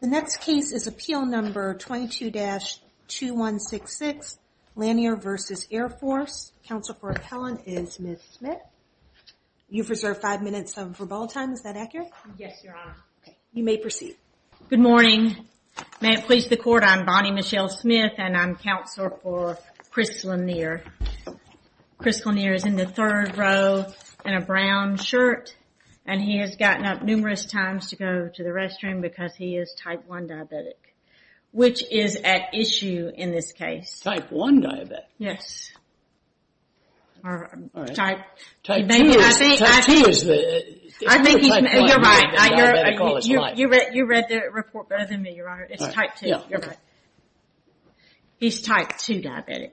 The next case is Appeal No. 22-2166, Lanier v. Air Force. Counsel for appellant is Ms. Smith. You've reserved five minutes of rebuttal time, is that accurate? Yes, Your Honor. You may proceed. Good morning. May it please the court, I'm Bonnie Michelle Smith and I'm counselor for Chris Lanier. Chris Lanier is in the third row in a brown shirt and he has gotten up numerous times to go to the restroom because he is type 1 diabetic, which is at issue in this case. Type 1 diabetic? Yes. All right. Type 2 is the... You're right. You read the report better than me, Your Honor. It's type 2. Yeah. You're right. He's type 2 diabetic.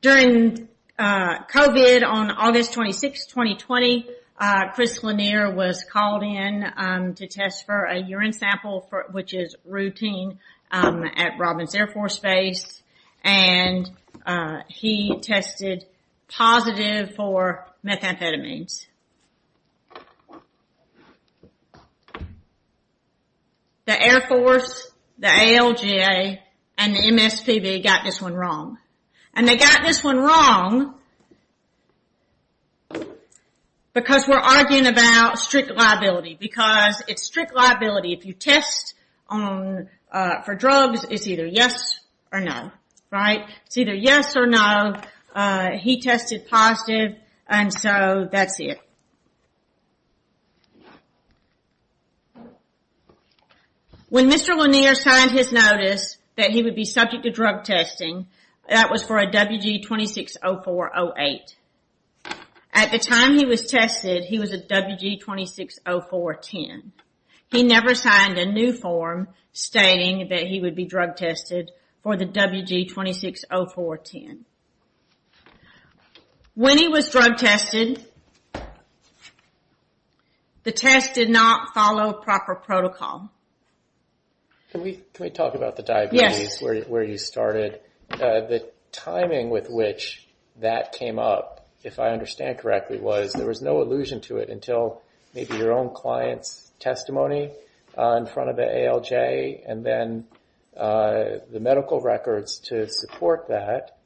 During COVID on August 26, 2020, Chris Lanier was called in to test for a urine sample, which is routine at Robbins Air Force Base, and he tested positive for methamphetamines. The Air Force, the ALGA, and the MSPB got this one wrong. And they got this one wrong because we're arguing about strict liability, because it's strict liability. If you test for drugs, it's either yes or no, right? It's either yes or no. He tested positive, and so that's it. When Mr. Lanier signed his notice that he would be subject to drug testing, that was for a WG260408. At the time he was tested, he was a WG260410. He never signed a new form stating that he would be drug tested for the WG260410. When he was drug tested, the test did not follow proper protocol. Can we talk about the diabetes where you started? The timing with which that came up, if I understand correctly, was there was no allusion to it until maybe your own client's testimony in front of the ALJ, and then the medical records to support that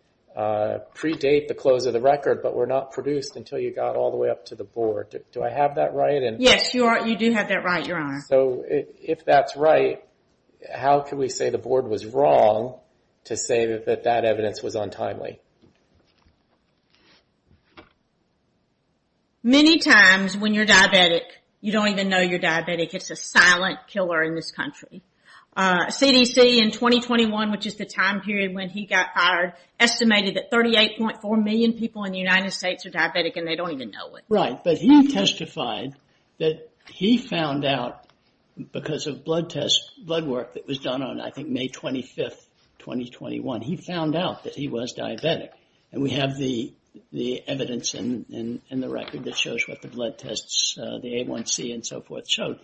predate the close of the record, but were not produced until you got all the way up to the board. Do I have that right? Yes, you do have that right, Your Honor. If that's right, how can we say the board was wrong to say that that evidence was untimely? Many times when you're diabetic, you don't even know you're diabetic. It's a silent killer in this country. CDC in 2021, which is the time period when he got fired, estimated that 38.4 million people in the United States are diabetic and they don't even know it. Right, but he testified that he found out because of blood tests, blood work that was done on, I think, May 25th, 2021, he found out that he was diabetic. We have the evidence in the record that shows what the blood tests, the A1C and so forth showed.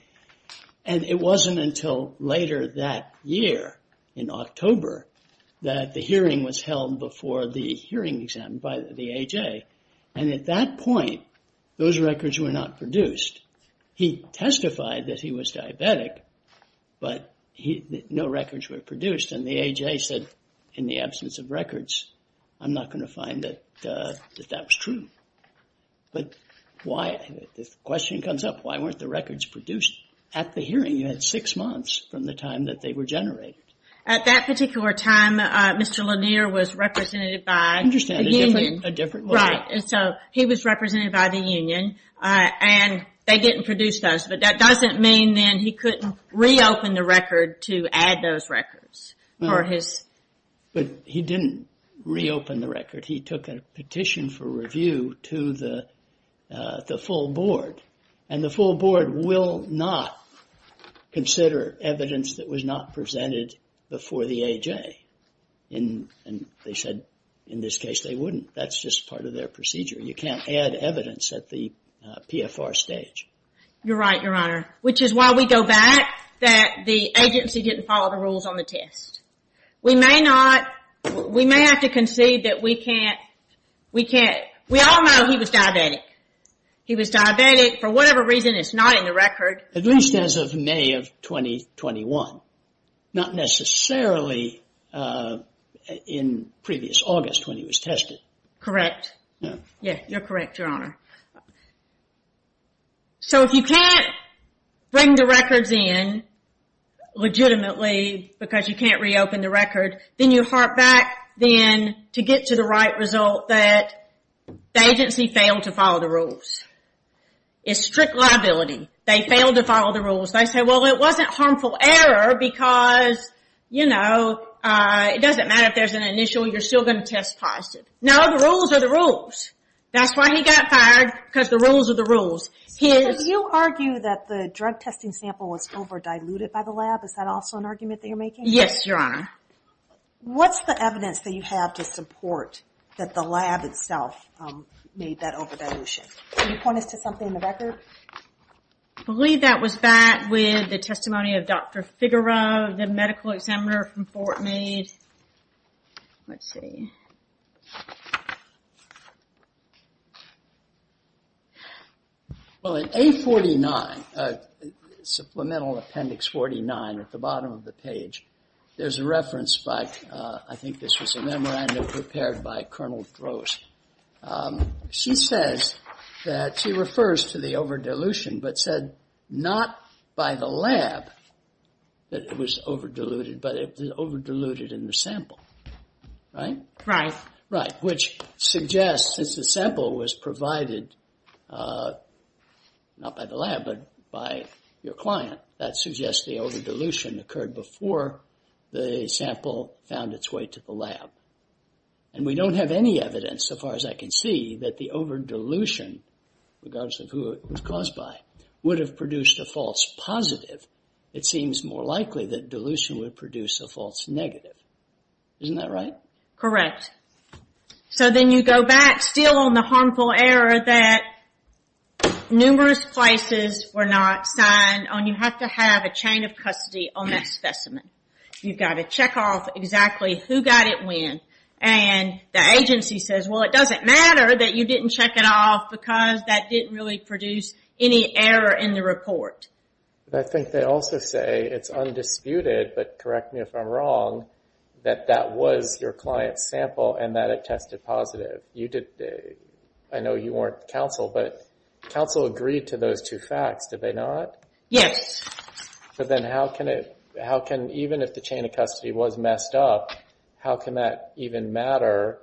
It wasn't until later that year, in October, that the hearing was held before the hearing exam by the AJ, and at that point, those records were not produced. He testified that he was diabetic, but no records were produced, and the AJ said, in the absence of records, I'm not going to find that that was true. But why? The question comes up, why weren't the records produced at the hearing? You had six months from the time that they were generated. At that particular time, Mr. Lanier was represented by a union, and so he was represented by the They didn't produce those, but that doesn't mean then he couldn't reopen the record to add those records. He didn't reopen the record. He took a petition for review to the full board, and the full board will not consider evidence that was not presented before the AJ, and they said, in this case, they wouldn't. That's just part of their procedure. You can't add evidence at the PFR stage. You're right, Your Honor, which is why we go back that the agency didn't follow the rules on the test. We may not, we may have to concede that we can't, we can't, we all know he was diabetic. He was diabetic for whatever reason. It's not in the record. At least as of May of 2021, not necessarily in previous August when he was tested. Correct. Yeah, you're correct, Your Honor. So if you can't bring the records in legitimately because you can't reopen the record, then you harp back then to get to the right result that the agency failed to follow the rules. It's strict liability. They failed to follow the rules. They say, well, it wasn't harmful error because, you know, it doesn't matter if there's an initial, you're still going to test positive. No, the rules are the rules. That's why he got fired, because the rules are the rules. You argue that the drug testing sample was over diluted by the lab, is that also an argument that you're making? Yes, Your Honor. What's the evidence that you have to support that the lab itself made that over dilution? Can you point us to something in the record? I believe that was back with the testimony of Dr. Figueroa, the medical examiner from Well, in A49, Supplemental Appendix 49, at the bottom of the page, there's a reference by, I think this was a memorandum prepared by Colonel Gross. She says that, she refers to the over dilution, but said not by the lab that it was over diluted, but it was over diluted in the sample, right? Right. Right, which suggests, since the sample was provided, not by the lab, but by your client, that suggests the over dilution occurred before the sample found its way to the lab. And we don't have any evidence, so far as I can see, that the over dilution, regardless of who it was caused by, would have produced a false positive. It seems more likely that dilution would produce a false negative, isn't that right? Correct. So, then you go back, still on the harmful error that numerous places were not signed on, you have to have a chain of custody on that specimen. You've got to check off exactly who got it when, and the agency says, well, it doesn't matter that you didn't check it off, because that didn't really produce any error in the report. I think they also say, it's undisputed, but correct me if I'm wrong, that that was your client's sample, and that it tested positive. I know you weren't counsel, but counsel agreed to those two facts, did they not? Yes. So, then how can, even if the chain of custody was messed up, how can that even matter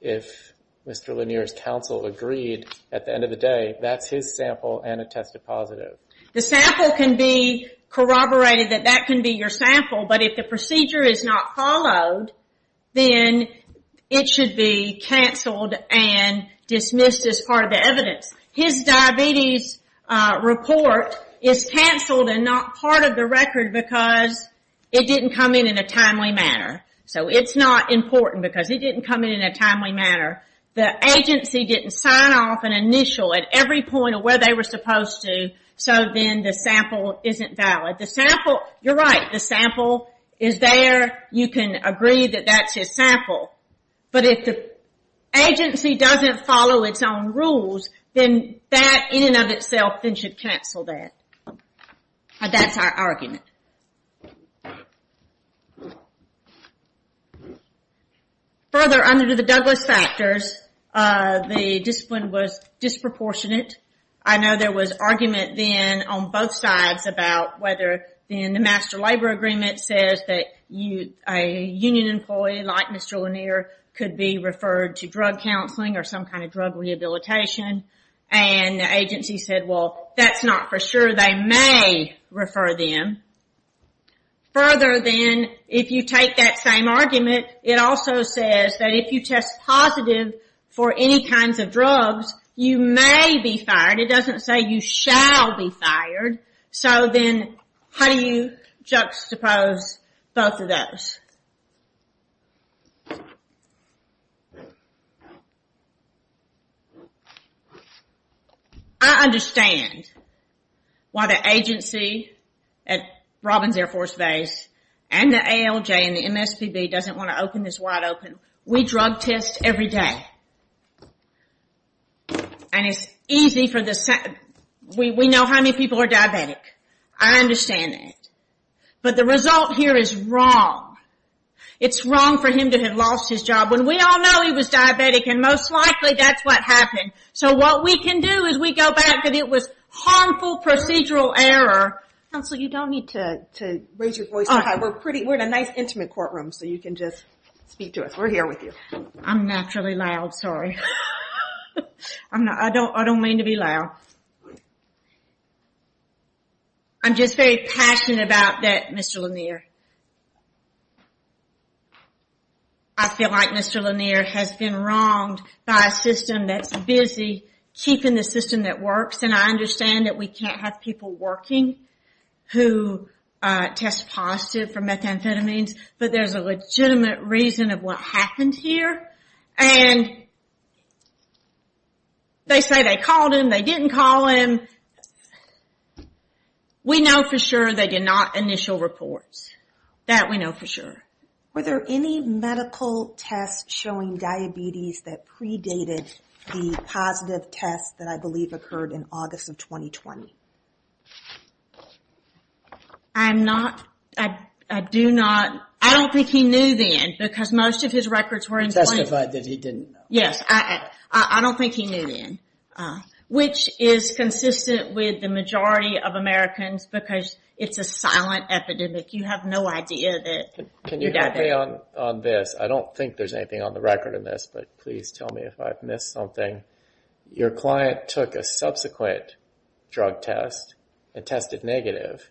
if Mr. Lanier's counsel agreed, at the end of the day, that's his sample, and it tested positive? The sample can be corroborated, that that can be your sample, but if the procedure is not followed, then it should be canceled and dismissed as part of the evidence. His diabetes report is canceled and not part of the record, because it didn't come in in a timely manner. So, it's not important, because it didn't come in in a timely manner. The agency didn't sign off an initial at every point of where they were supposed to, so then the sample isn't valid. The sample, you're right, the sample is there, you can agree that that's his sample. But if the agency doesn't follow its own rules, then that in and of itself, then should cancel that. That's our argument. Further, under the Douglas factors, the discipline was disproportionate. I know there was argument then on both sides about whether in the Master Labor Agreement says that a union employee, like Mr. Lanier, could be referred to drug counseling or some kind of drug rehabilitation, and the agency said, well, that's not for sure, they may refer them. Further, then, if you take that same argument, it also says that if you test positive for any kinds of drugs, you may be fired, it doesn't say you shall be fired, so then, how do you juxtapose both of those? I understand why the agency at Robbins Air Force Base and the ALJ and the MSPB doesn't want to open this wide open. We drug test every day, and it's easy for the, we know how many people are diabetic. I understand that. But the result here is wrong. It's wrong for him to have lost his job when we all know he was diabetic, and most likely that's what happened. So what we can do is we go back that it was harmful procedural error. Counsel, you don't need to raise your voice so high, we're pretty, we're in a nice intimate courtroom so you can just speak to us. We're here with you. I'm naturally loud, sorry. I don't mean to be loud. I'm just very passionate about that, Mr. Lanier. I feel like Mr. Lanier has been wronged by a system that's busy keeping the system that works and I understand that we can't have people working who test positive for methamphetamines, but there's a legitimate reason of what happened here. And they say they called him, they didn't call him. We know for sure they did not initial reports. That we know for sure. Were there any medical tests showing diabetes that predated the positive tests that I believe occurred in August of 2020? I'm not, I do not, I don't think he knew then because most of his records were in place. Testified that he didn't know. Yes, I don't think he knew then. Which is consistent with the majority of Americans because it's a silent epidemic. You have no idea that you're diabetic. Can you help me on this? I don't think there's anything on the record in this, but please tell me if I've missed something. Your client took a subsequent drug test and tested negative,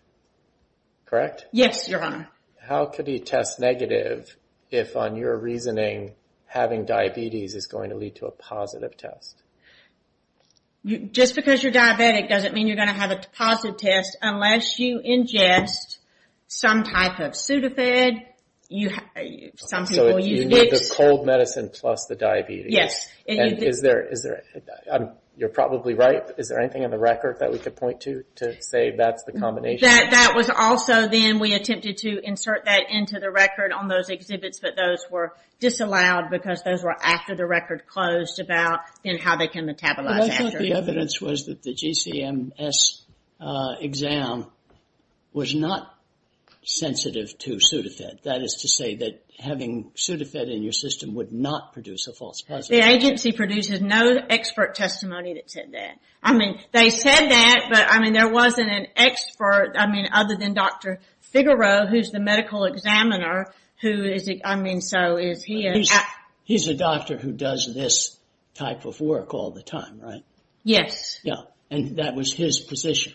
correct? Yes, your honor. How could he test negative if on your reasoning having diabetes is going to lead to a positive test? Just because you're diabetic doesn't mean you're going to have a positive test unless you ingest some type of pseudofed, you have, some people use it. So you need the cold medicine plus the diabetes. Yes. And is there, you're probably right, is there anything on the record that we could point to to say that's the combination? That was also then we attempted to insert that into the record on those exhibits, but those were disallowed because those were after the record closed about how they can metabolize after. But I thought the evidence was that the GCMS exam was not sensitive to pseudofed. That is to say that having pseudofed in your system would not produce a false positive. The agency produces no expert testimony that said that. I mean they said that, but I mean there wasn't an expert, I mean other than Dr. Figaro, who's the medical examiner, who is, I mean so is he. He's a doctor who does this type of work all the time, right? Yes. Yeah, and that was his position.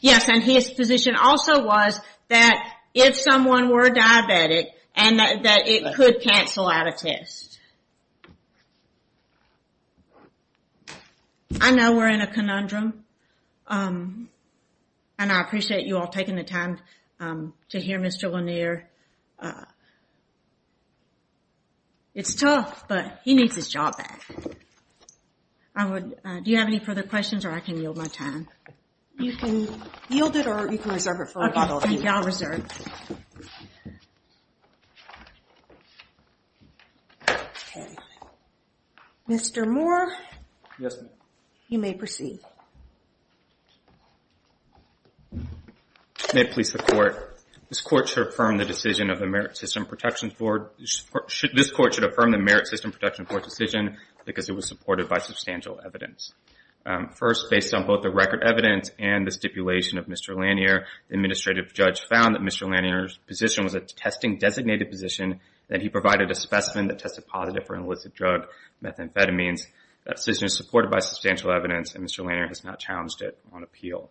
Yes, and his position also was that if someone were diabetic and that it could cancel out a test. I know we're in a conundrum, and I appreciate you all taking the time to hear Mr. Lanier. It's tough, but he needs his job back. Do you have any further questions or I can yield my time? You can yield it or you can reserve it for a follow-up. Thank you. Thank you. I'll reserve. Okay. Mr. Moore. Yes, ma'am. You may proceed. May it please the Court, this Court should affirm the decision of the Merit System Protection Board, this Court should affirm the Merit System Protection Board decision because it was supported by substantial evidence. First, based on both the record evidence and the stipulation of Mr. Lanier, the Administrative Judge found that Mr. Lanier's position was a testing-designated position, that he provided a specimen that tested positive for an illicit drug, methamphetamines. That decision is supported by substantial evidence, and Mr. Lanier has not challenged it on appeal.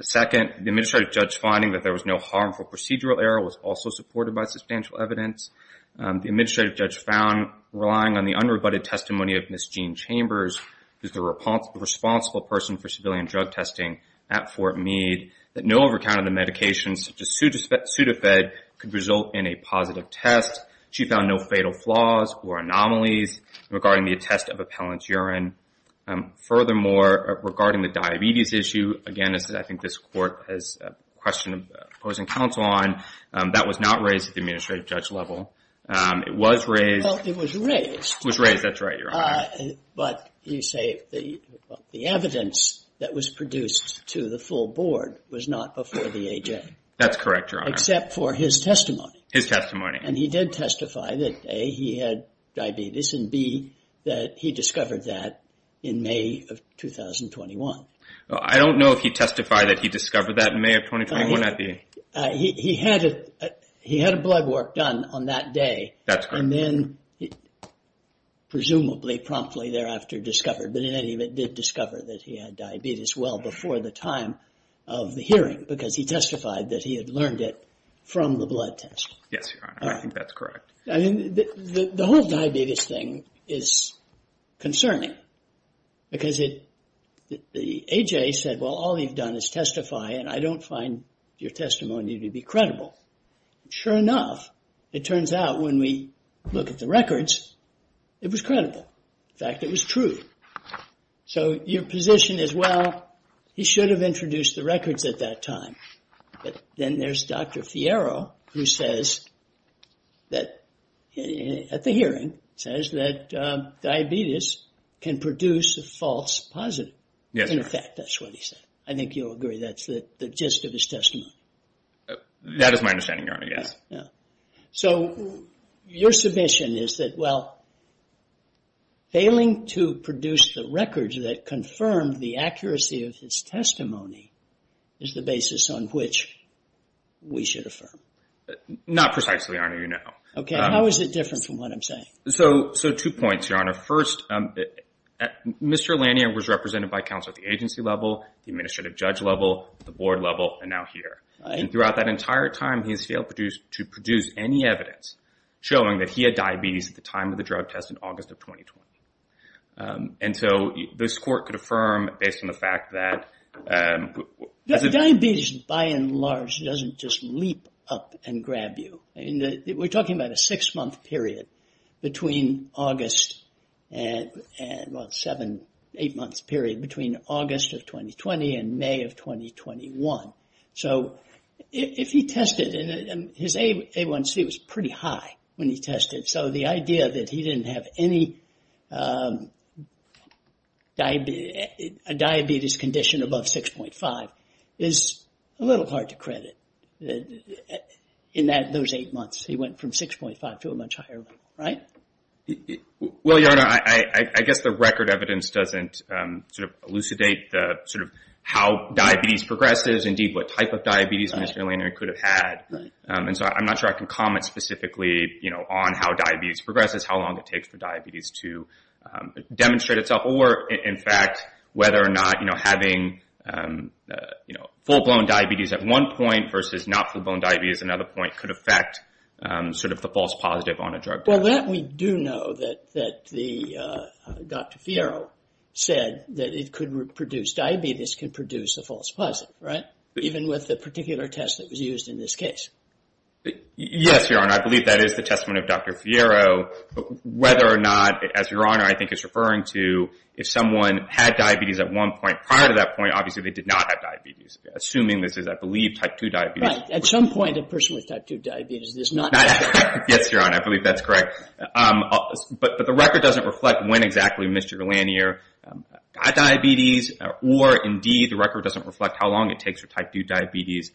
Second, the Administrative Judge finding that there was no harmful procedural error was also supported by substantial evidence. The Administrative Judge found relying on the unrebutted testimony of Ms. Jean Chambers who's the responsible person for civilian drug testing at Fort Meade, that no overcount of the medications such as Sudafed could result in a positive test. She found no fatal flaws or anomalies regarding the attest of appellant's urine. Furthermore, regarding the diabetes issue, again, I think this Court has a question of opposing counsel on, that was not raised at the Administrative Judge level. It was raised. Well, it was raised. It was raised. That's right, Your Honor. But you say the evidence that was produced to the full board was not before the AJ. That's correct, Your Honor. Except for his testimony. His testimony. And he did testify that, A, he had diabetes, and B, that he discovered that in May of 2021. I don't know if he testified that he discovered that in May of 2021 at the... He had a blood work done on that day. That's correct. And then, presumably promptly thereafter, discovered, but in any event, did discover that he had diabetes well before the time of the hearing, because he testified that he had learned it from the blood test. Yes, Your Honor. I think that's correct. I mean, the whole diabetes thing is concerning, because the AJ said, well, all you've done is testify, and I don't find your testimony to be credible. Sure enough, it turns out when we look at the records, it was credible. In fact, it was true. So your position is, well, he should have introduced the records at that time. Then there's Dr. Fiero, who says that, at the hearing, says that diabetes can produce a false positive. Yes, Your Honor. In fact, that's what he said. I think you'll agree that's the gist of his testimony. That is my understanding, Your Honor, yes. So your submission is that, well, failing to produce the records that confirmed the accuracy of his testimony is the basis on which we should affirm. Not precisely, Your Honor. You know. Okay. How is it different from what I'm saying? So two points, Your Honor. First, Mr. Lanier was represented by counsel at the agency level, the administrative judge level, the board level, and now here. Right. And throughout that entire time, he has failed to produce any evidence showing that he had diabetes at the time of the drug test in August of 2020. And so this court could affirm, based on the fact that... Diabetes, by and large, doesn't just leap up and grab you. We're talking about a six-month period between August and, well, seven, eight-month period between August of 2020 and May of 2021. So if he tested, his A1C was pretty high when he tested. So the idea that he didn't have any diabetes condition above 6.5 is a little hard to credit in those eight months. He went from 6.5 to a much higher level. Right? Well, Your Honor, I guess the record evidence doesn't elucidate how diabetes progresses, indeed, what type of diabetes Mr. Lanier could have had. And so I'm not sure I can comment specifically on how diabetes progresses, how long it takes for diabetes to demonstrate itself, or, in fact, whether or not having full-blown diabetes at one point versus not full-blown diabetes at another point could affect the false positive on a drug test. Well, that we do know that Dr. Fiero said that it could produce, diabetes can produce a false positive, right? Even with the particular test that was used in this case. Yes, Your Honor, I believe that is the testament of Dr. Fiero. Whether or not, as Your Honor, I think is referring to, if someone had diabetes at one point, prior to that point, obviously, they did not have diabetes, assuming this is, I believe, type 2 diabetes. Right. At some point, a person with type 2 diabetes does not have diabetes. Yes, Your Honor. I believe that's correct. But the record doesn't reflect when exactly Mr. Lanier had diabetes, or, indeed, the record doesn't reflect how long it takes for type 2 diabetes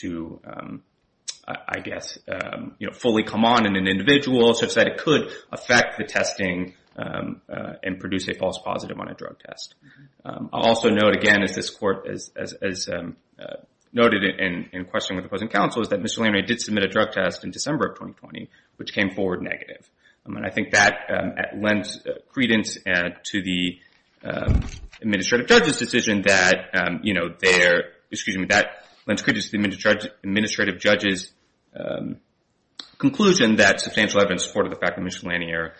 to, I guess, fully come on in an individual such that it could affect the testing and produce a false positive on a drug test. I'll also note, again, as this Court, as noted in questioning with opposing counsel, is that Mr. Lanier came forward negative. I mean, I think that lends credence to the Administrative Judge's decision that, you know, their, excuse me, that lends credence to the Administrative Judge's conclusion that substantial evidence supported the fact that Mr. Lanier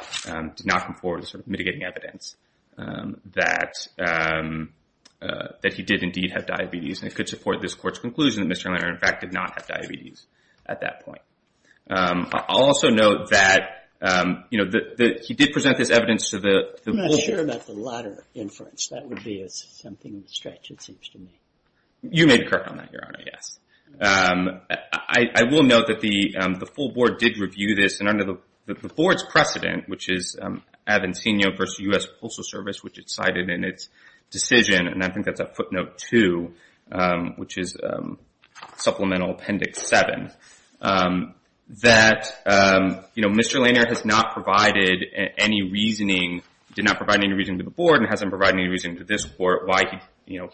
did not come forward as sort of mitigating evidence that he did, indeed, have diabetes, and it could support this Court's conclusion that Mr. Lanier, in fact, did not have diabetes at that point. I'll also note that, you know, he did present this evidence to the Board. I'm not sure about the latter inference. That would be something in the stretch, it seems to me. You may be correct on that, Your Honor, yes. I will note that the full Board did review this, and under the Board's precedent, which is Avancino v. U.S. Postal Service, which it cited in its decision, and I think that's footnote two, which is Supplemental Appendix 7, that, you know, Mr. Lanier has not provided any reasoning, did not provide any reasoning to the Board, and hasn't provided any reasoning to this Court why he, you know,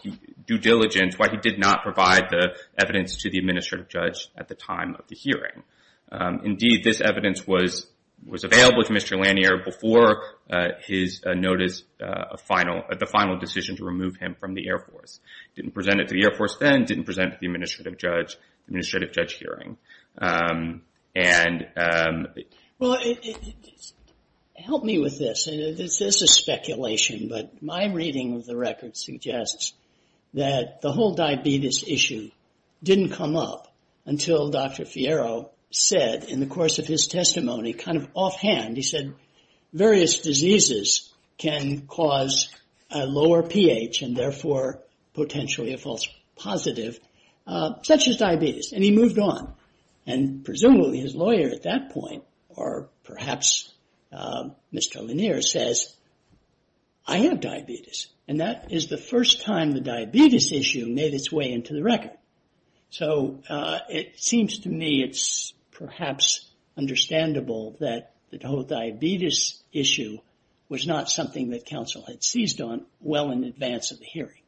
due diligence, why he did not provide the evidence to the Administrative Judge at the time of the hearing. Indeed, this evidence was available to Mr. Lanier before his notice, the final decision to remove him from the Air Force. Didn't present it to the Air Force then, didn't present it to the Administrative Judge, the Administrative Judge hearing. And... Well, help me with this, and this is speculation, but my reading of the record suggests that the whole diabetes issue didn't come up until Dr. Fierro said, in the course of his testimony, kind of offhand, he said, various diseases can cause a lower pH, and therefore, potentially a false positive, such as diabetes, and he moved on. And presumably, his lawyer at that point, or perhaps Mr. Lanier, says, I have diabetes, and that is the first time the diabetes issue made its way into the record. So, it seems to me it's perhaps understandable that the whole diabetes issue was not something that counsel had seized on well in advance of the hearing.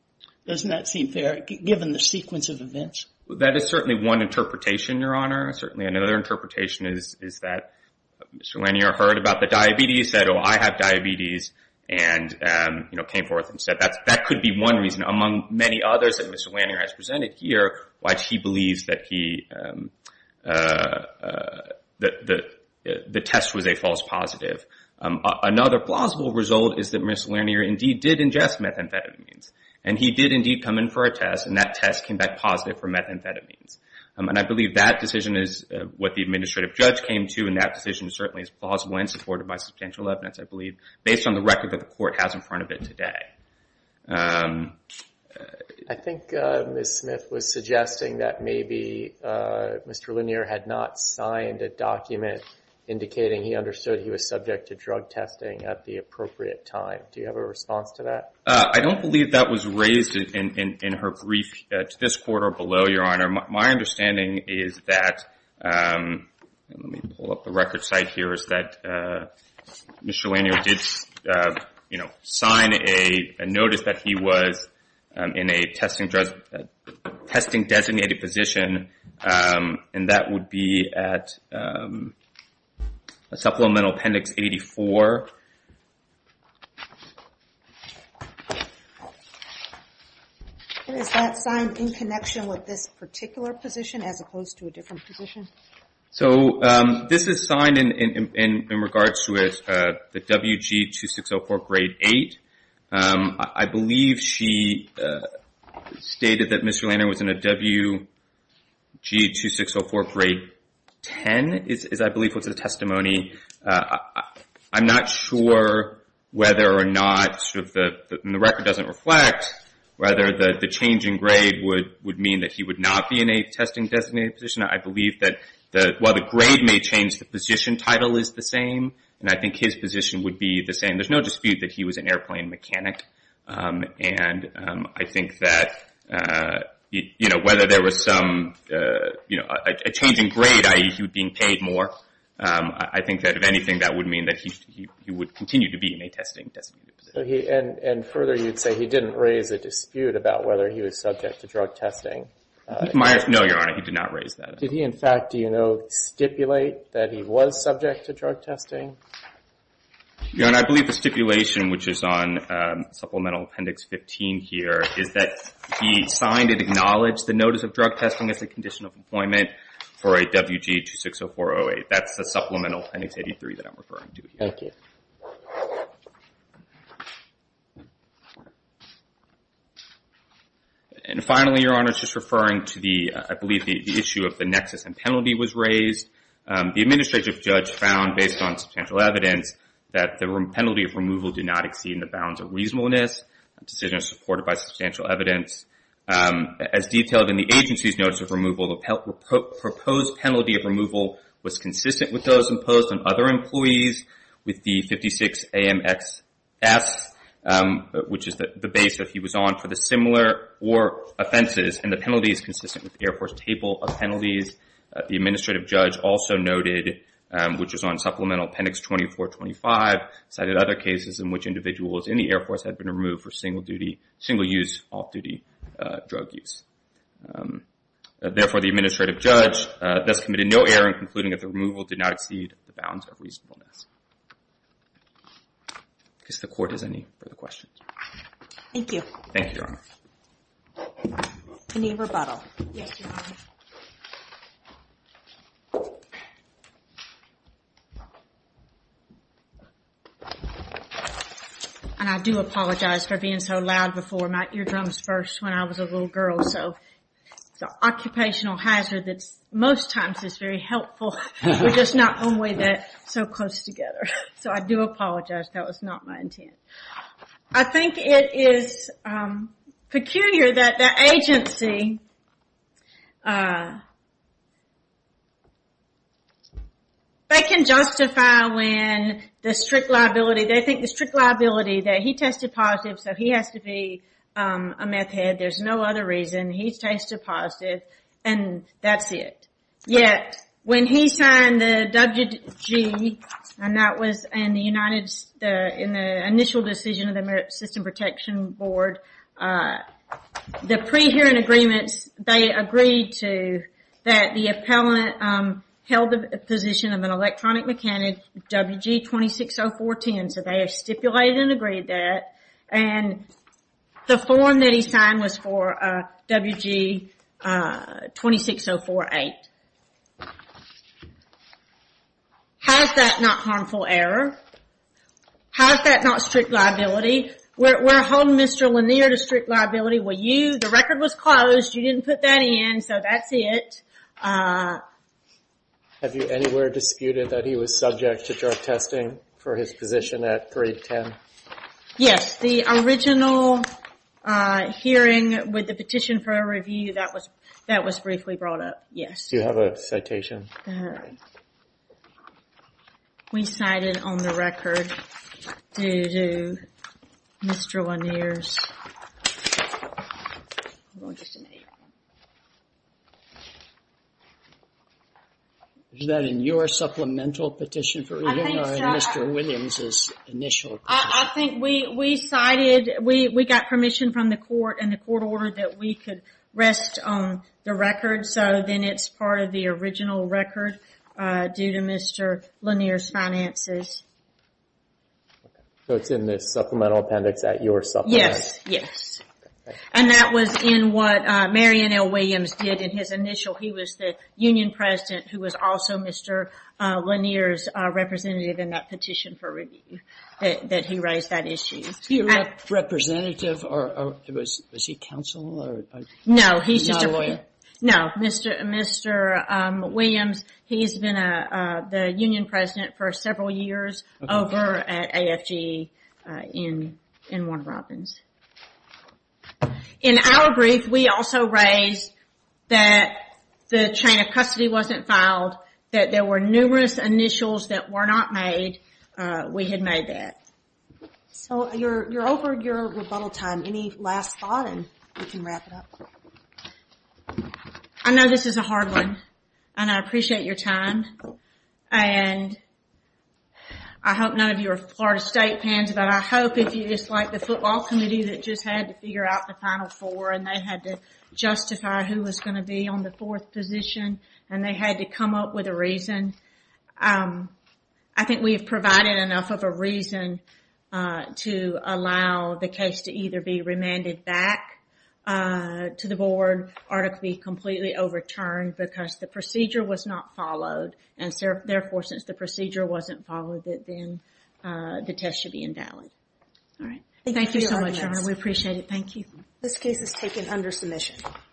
Doesn't that seem fair, given the sequence of events? That is certainly one interpretation, Your Honor. Certainly another interpretation is that Mr. Lanier heard about the diabetes, said, oh, I have diabetes, and, you know, came forth and said, that could be one reason, among many others that Mr. Lanier has presented here, why he believes that the test was a false positive. Another plausible result is that Mr. Lanier indeed did ingest methamphetamines, and he did indeed come in for a test, and that test came back positive for methamphetamines. And I believe that decision is what the administrative judge came to, and that decision certainly is plausible and supported by substantial evidence, I believe, based on the record that I presented today. I think Ms. Smith was suggesting that maybe Mr. Lanier had not signed a document indicating he understood he was subject to drug testing at the appropriate time. Do you have a response to that? I don't believe that was raised in her brief to this court or below, Your Honor. My understanding is that, let me pull up the record site here, is that Mr. Lanier did, you know, sign a notice that he was in a testing-designated position, and that would be at Supplemental Appendix 84. Is that signed in connection with this particular position as opposed to a different position? So this is signed in regards to the WG2604, Grade 8. I believe she stated that Mr. Lanier was in a WG2604, Grade 10, is, I believe, what's the testimony. I'm not sure whether or not, and the record doesn't reflect, whether the change in grade would mean that he would not be in a testing-designated position. I believe that, while the grade may change, the position title is the same, and I think his position would be the same. There's no dispute that he was an airplane mechanic, and I think that, you know, whether there was some, you know, a change in grade, i.e. he was being paid more, I think that if anything, that would mean that he would continue to be in a testing-designated position. And further, you'd say he didn't raise a dispute about whether he was subject to drug testing. No, Your Honor, he did not raise that. Did he, in fact, do you know, stipulate that he was subject to drug testing? Your Honor, I believe the stipulation, which is on Supplemental Appendix 15 here, is that he signed and acknowledged the notice of drug testing as a condition of employment for a WG260408. That's the Supplemental Appendix 83 that I'm referring to here. Thank you. And finally, Your Honor, just referring to the, I believe the issue of the nexus and penalty was raised, the administrative judge found, based on substantial evidence, that the penalty of removal did not exceed the bounds of reasonableness, a decision supported by substantial evidence. As detailed in the agency's notice of removal, the proposed penalty of removal was consistent with those imposed on other employees with the 56-AMXS, which is the base that he was on for the similar or offenses. And the penalty is consistent with the Air Force table of penalties. The administrative judge also noted, which is on Supplemental Appendix 2425, cited other cases in which individuals in the Air Force had been removed for single-duty, single-use off-duty drug use. Therefore, the administrative judge thus committed no error in concluding that the removal did not exceed the bounds of reasonableness. I guess the Court has any further questions. Thank you. Thank you, Your Honor. Any rebuttal? Yes, Your Honor. And I do apologize for being so loud before, my eardrums burst when I was a little girl. It's an occupational hazard that most times is very helpful. We're just not one way that so close together. So I do apologize. That was not my intent. I think it is peculiar that the agency, they can justify when the strict liability, they think the strict liability that he tested positive, so he has to be a meth head. There's no other reason. He tested positive, and that's it. Yet, when he signed the WG, and that was in the initial decision of the American System Protection Board, the pre-hearing agreements, they agreed to that the appellant held the position of an electronic mechanic, WG 260410, so they have stipulated and agreed that. And the form that he signed was for WG 26048. How is that not harmful error? How is that not strict liability? We're holding Mr. Lanier to strict liability. Well, you, the record was closed. You didn't put that in, so that's it. Have you anywhere disputed that he was subject to drug testing for his position at 310? Yes. The original hearing with the petition for a review, that was briefly brought up. Yes. Do you have a citation? We cited on the record, due to Mr. Lanier's... Is that in your supplemental petition for review, or in Mr. Williams' initial petition? I think we cited, we got permission from the court, and the court ordered that we could rest on the record, so then it's part of the original record, due to Mr. Lanier's finances. So it's in the supplemental appendix at your supplement? Yes. Yes. And that was in what Marion L. Williams did in his initial, he was the union president who was also Mr. Lanier's representative in that petition for review, that he raised that issue. He was a representative, or was he counsel? No, he's just a lawyer. No, Mr. Williams, he's been the union president for several years over at AFG in Warner Robins. In our brief, we also raised that the chain of custody wasn't filed, that there were numerous initials that were not made, we had made that. So, you're over your rebuttal time, any last thought, and we can wrap it up. I know this is a hard one, and I appreciate your time, and I hope none of you are Florida State fans, but I hope if you dislike the football committee that just had to figure out the final four, and they had to justify who was going to be on the fourth position, and they had to come up with a reason, I think we've provided enough of a reason to allow the case to either be remanded back to the board, or to be completely overturned, because the procedure was not followed, and therefore, since the procedure wasn't followed, then the test should be invalid. Thank you so much, we appreciate it. This case is taken under submission.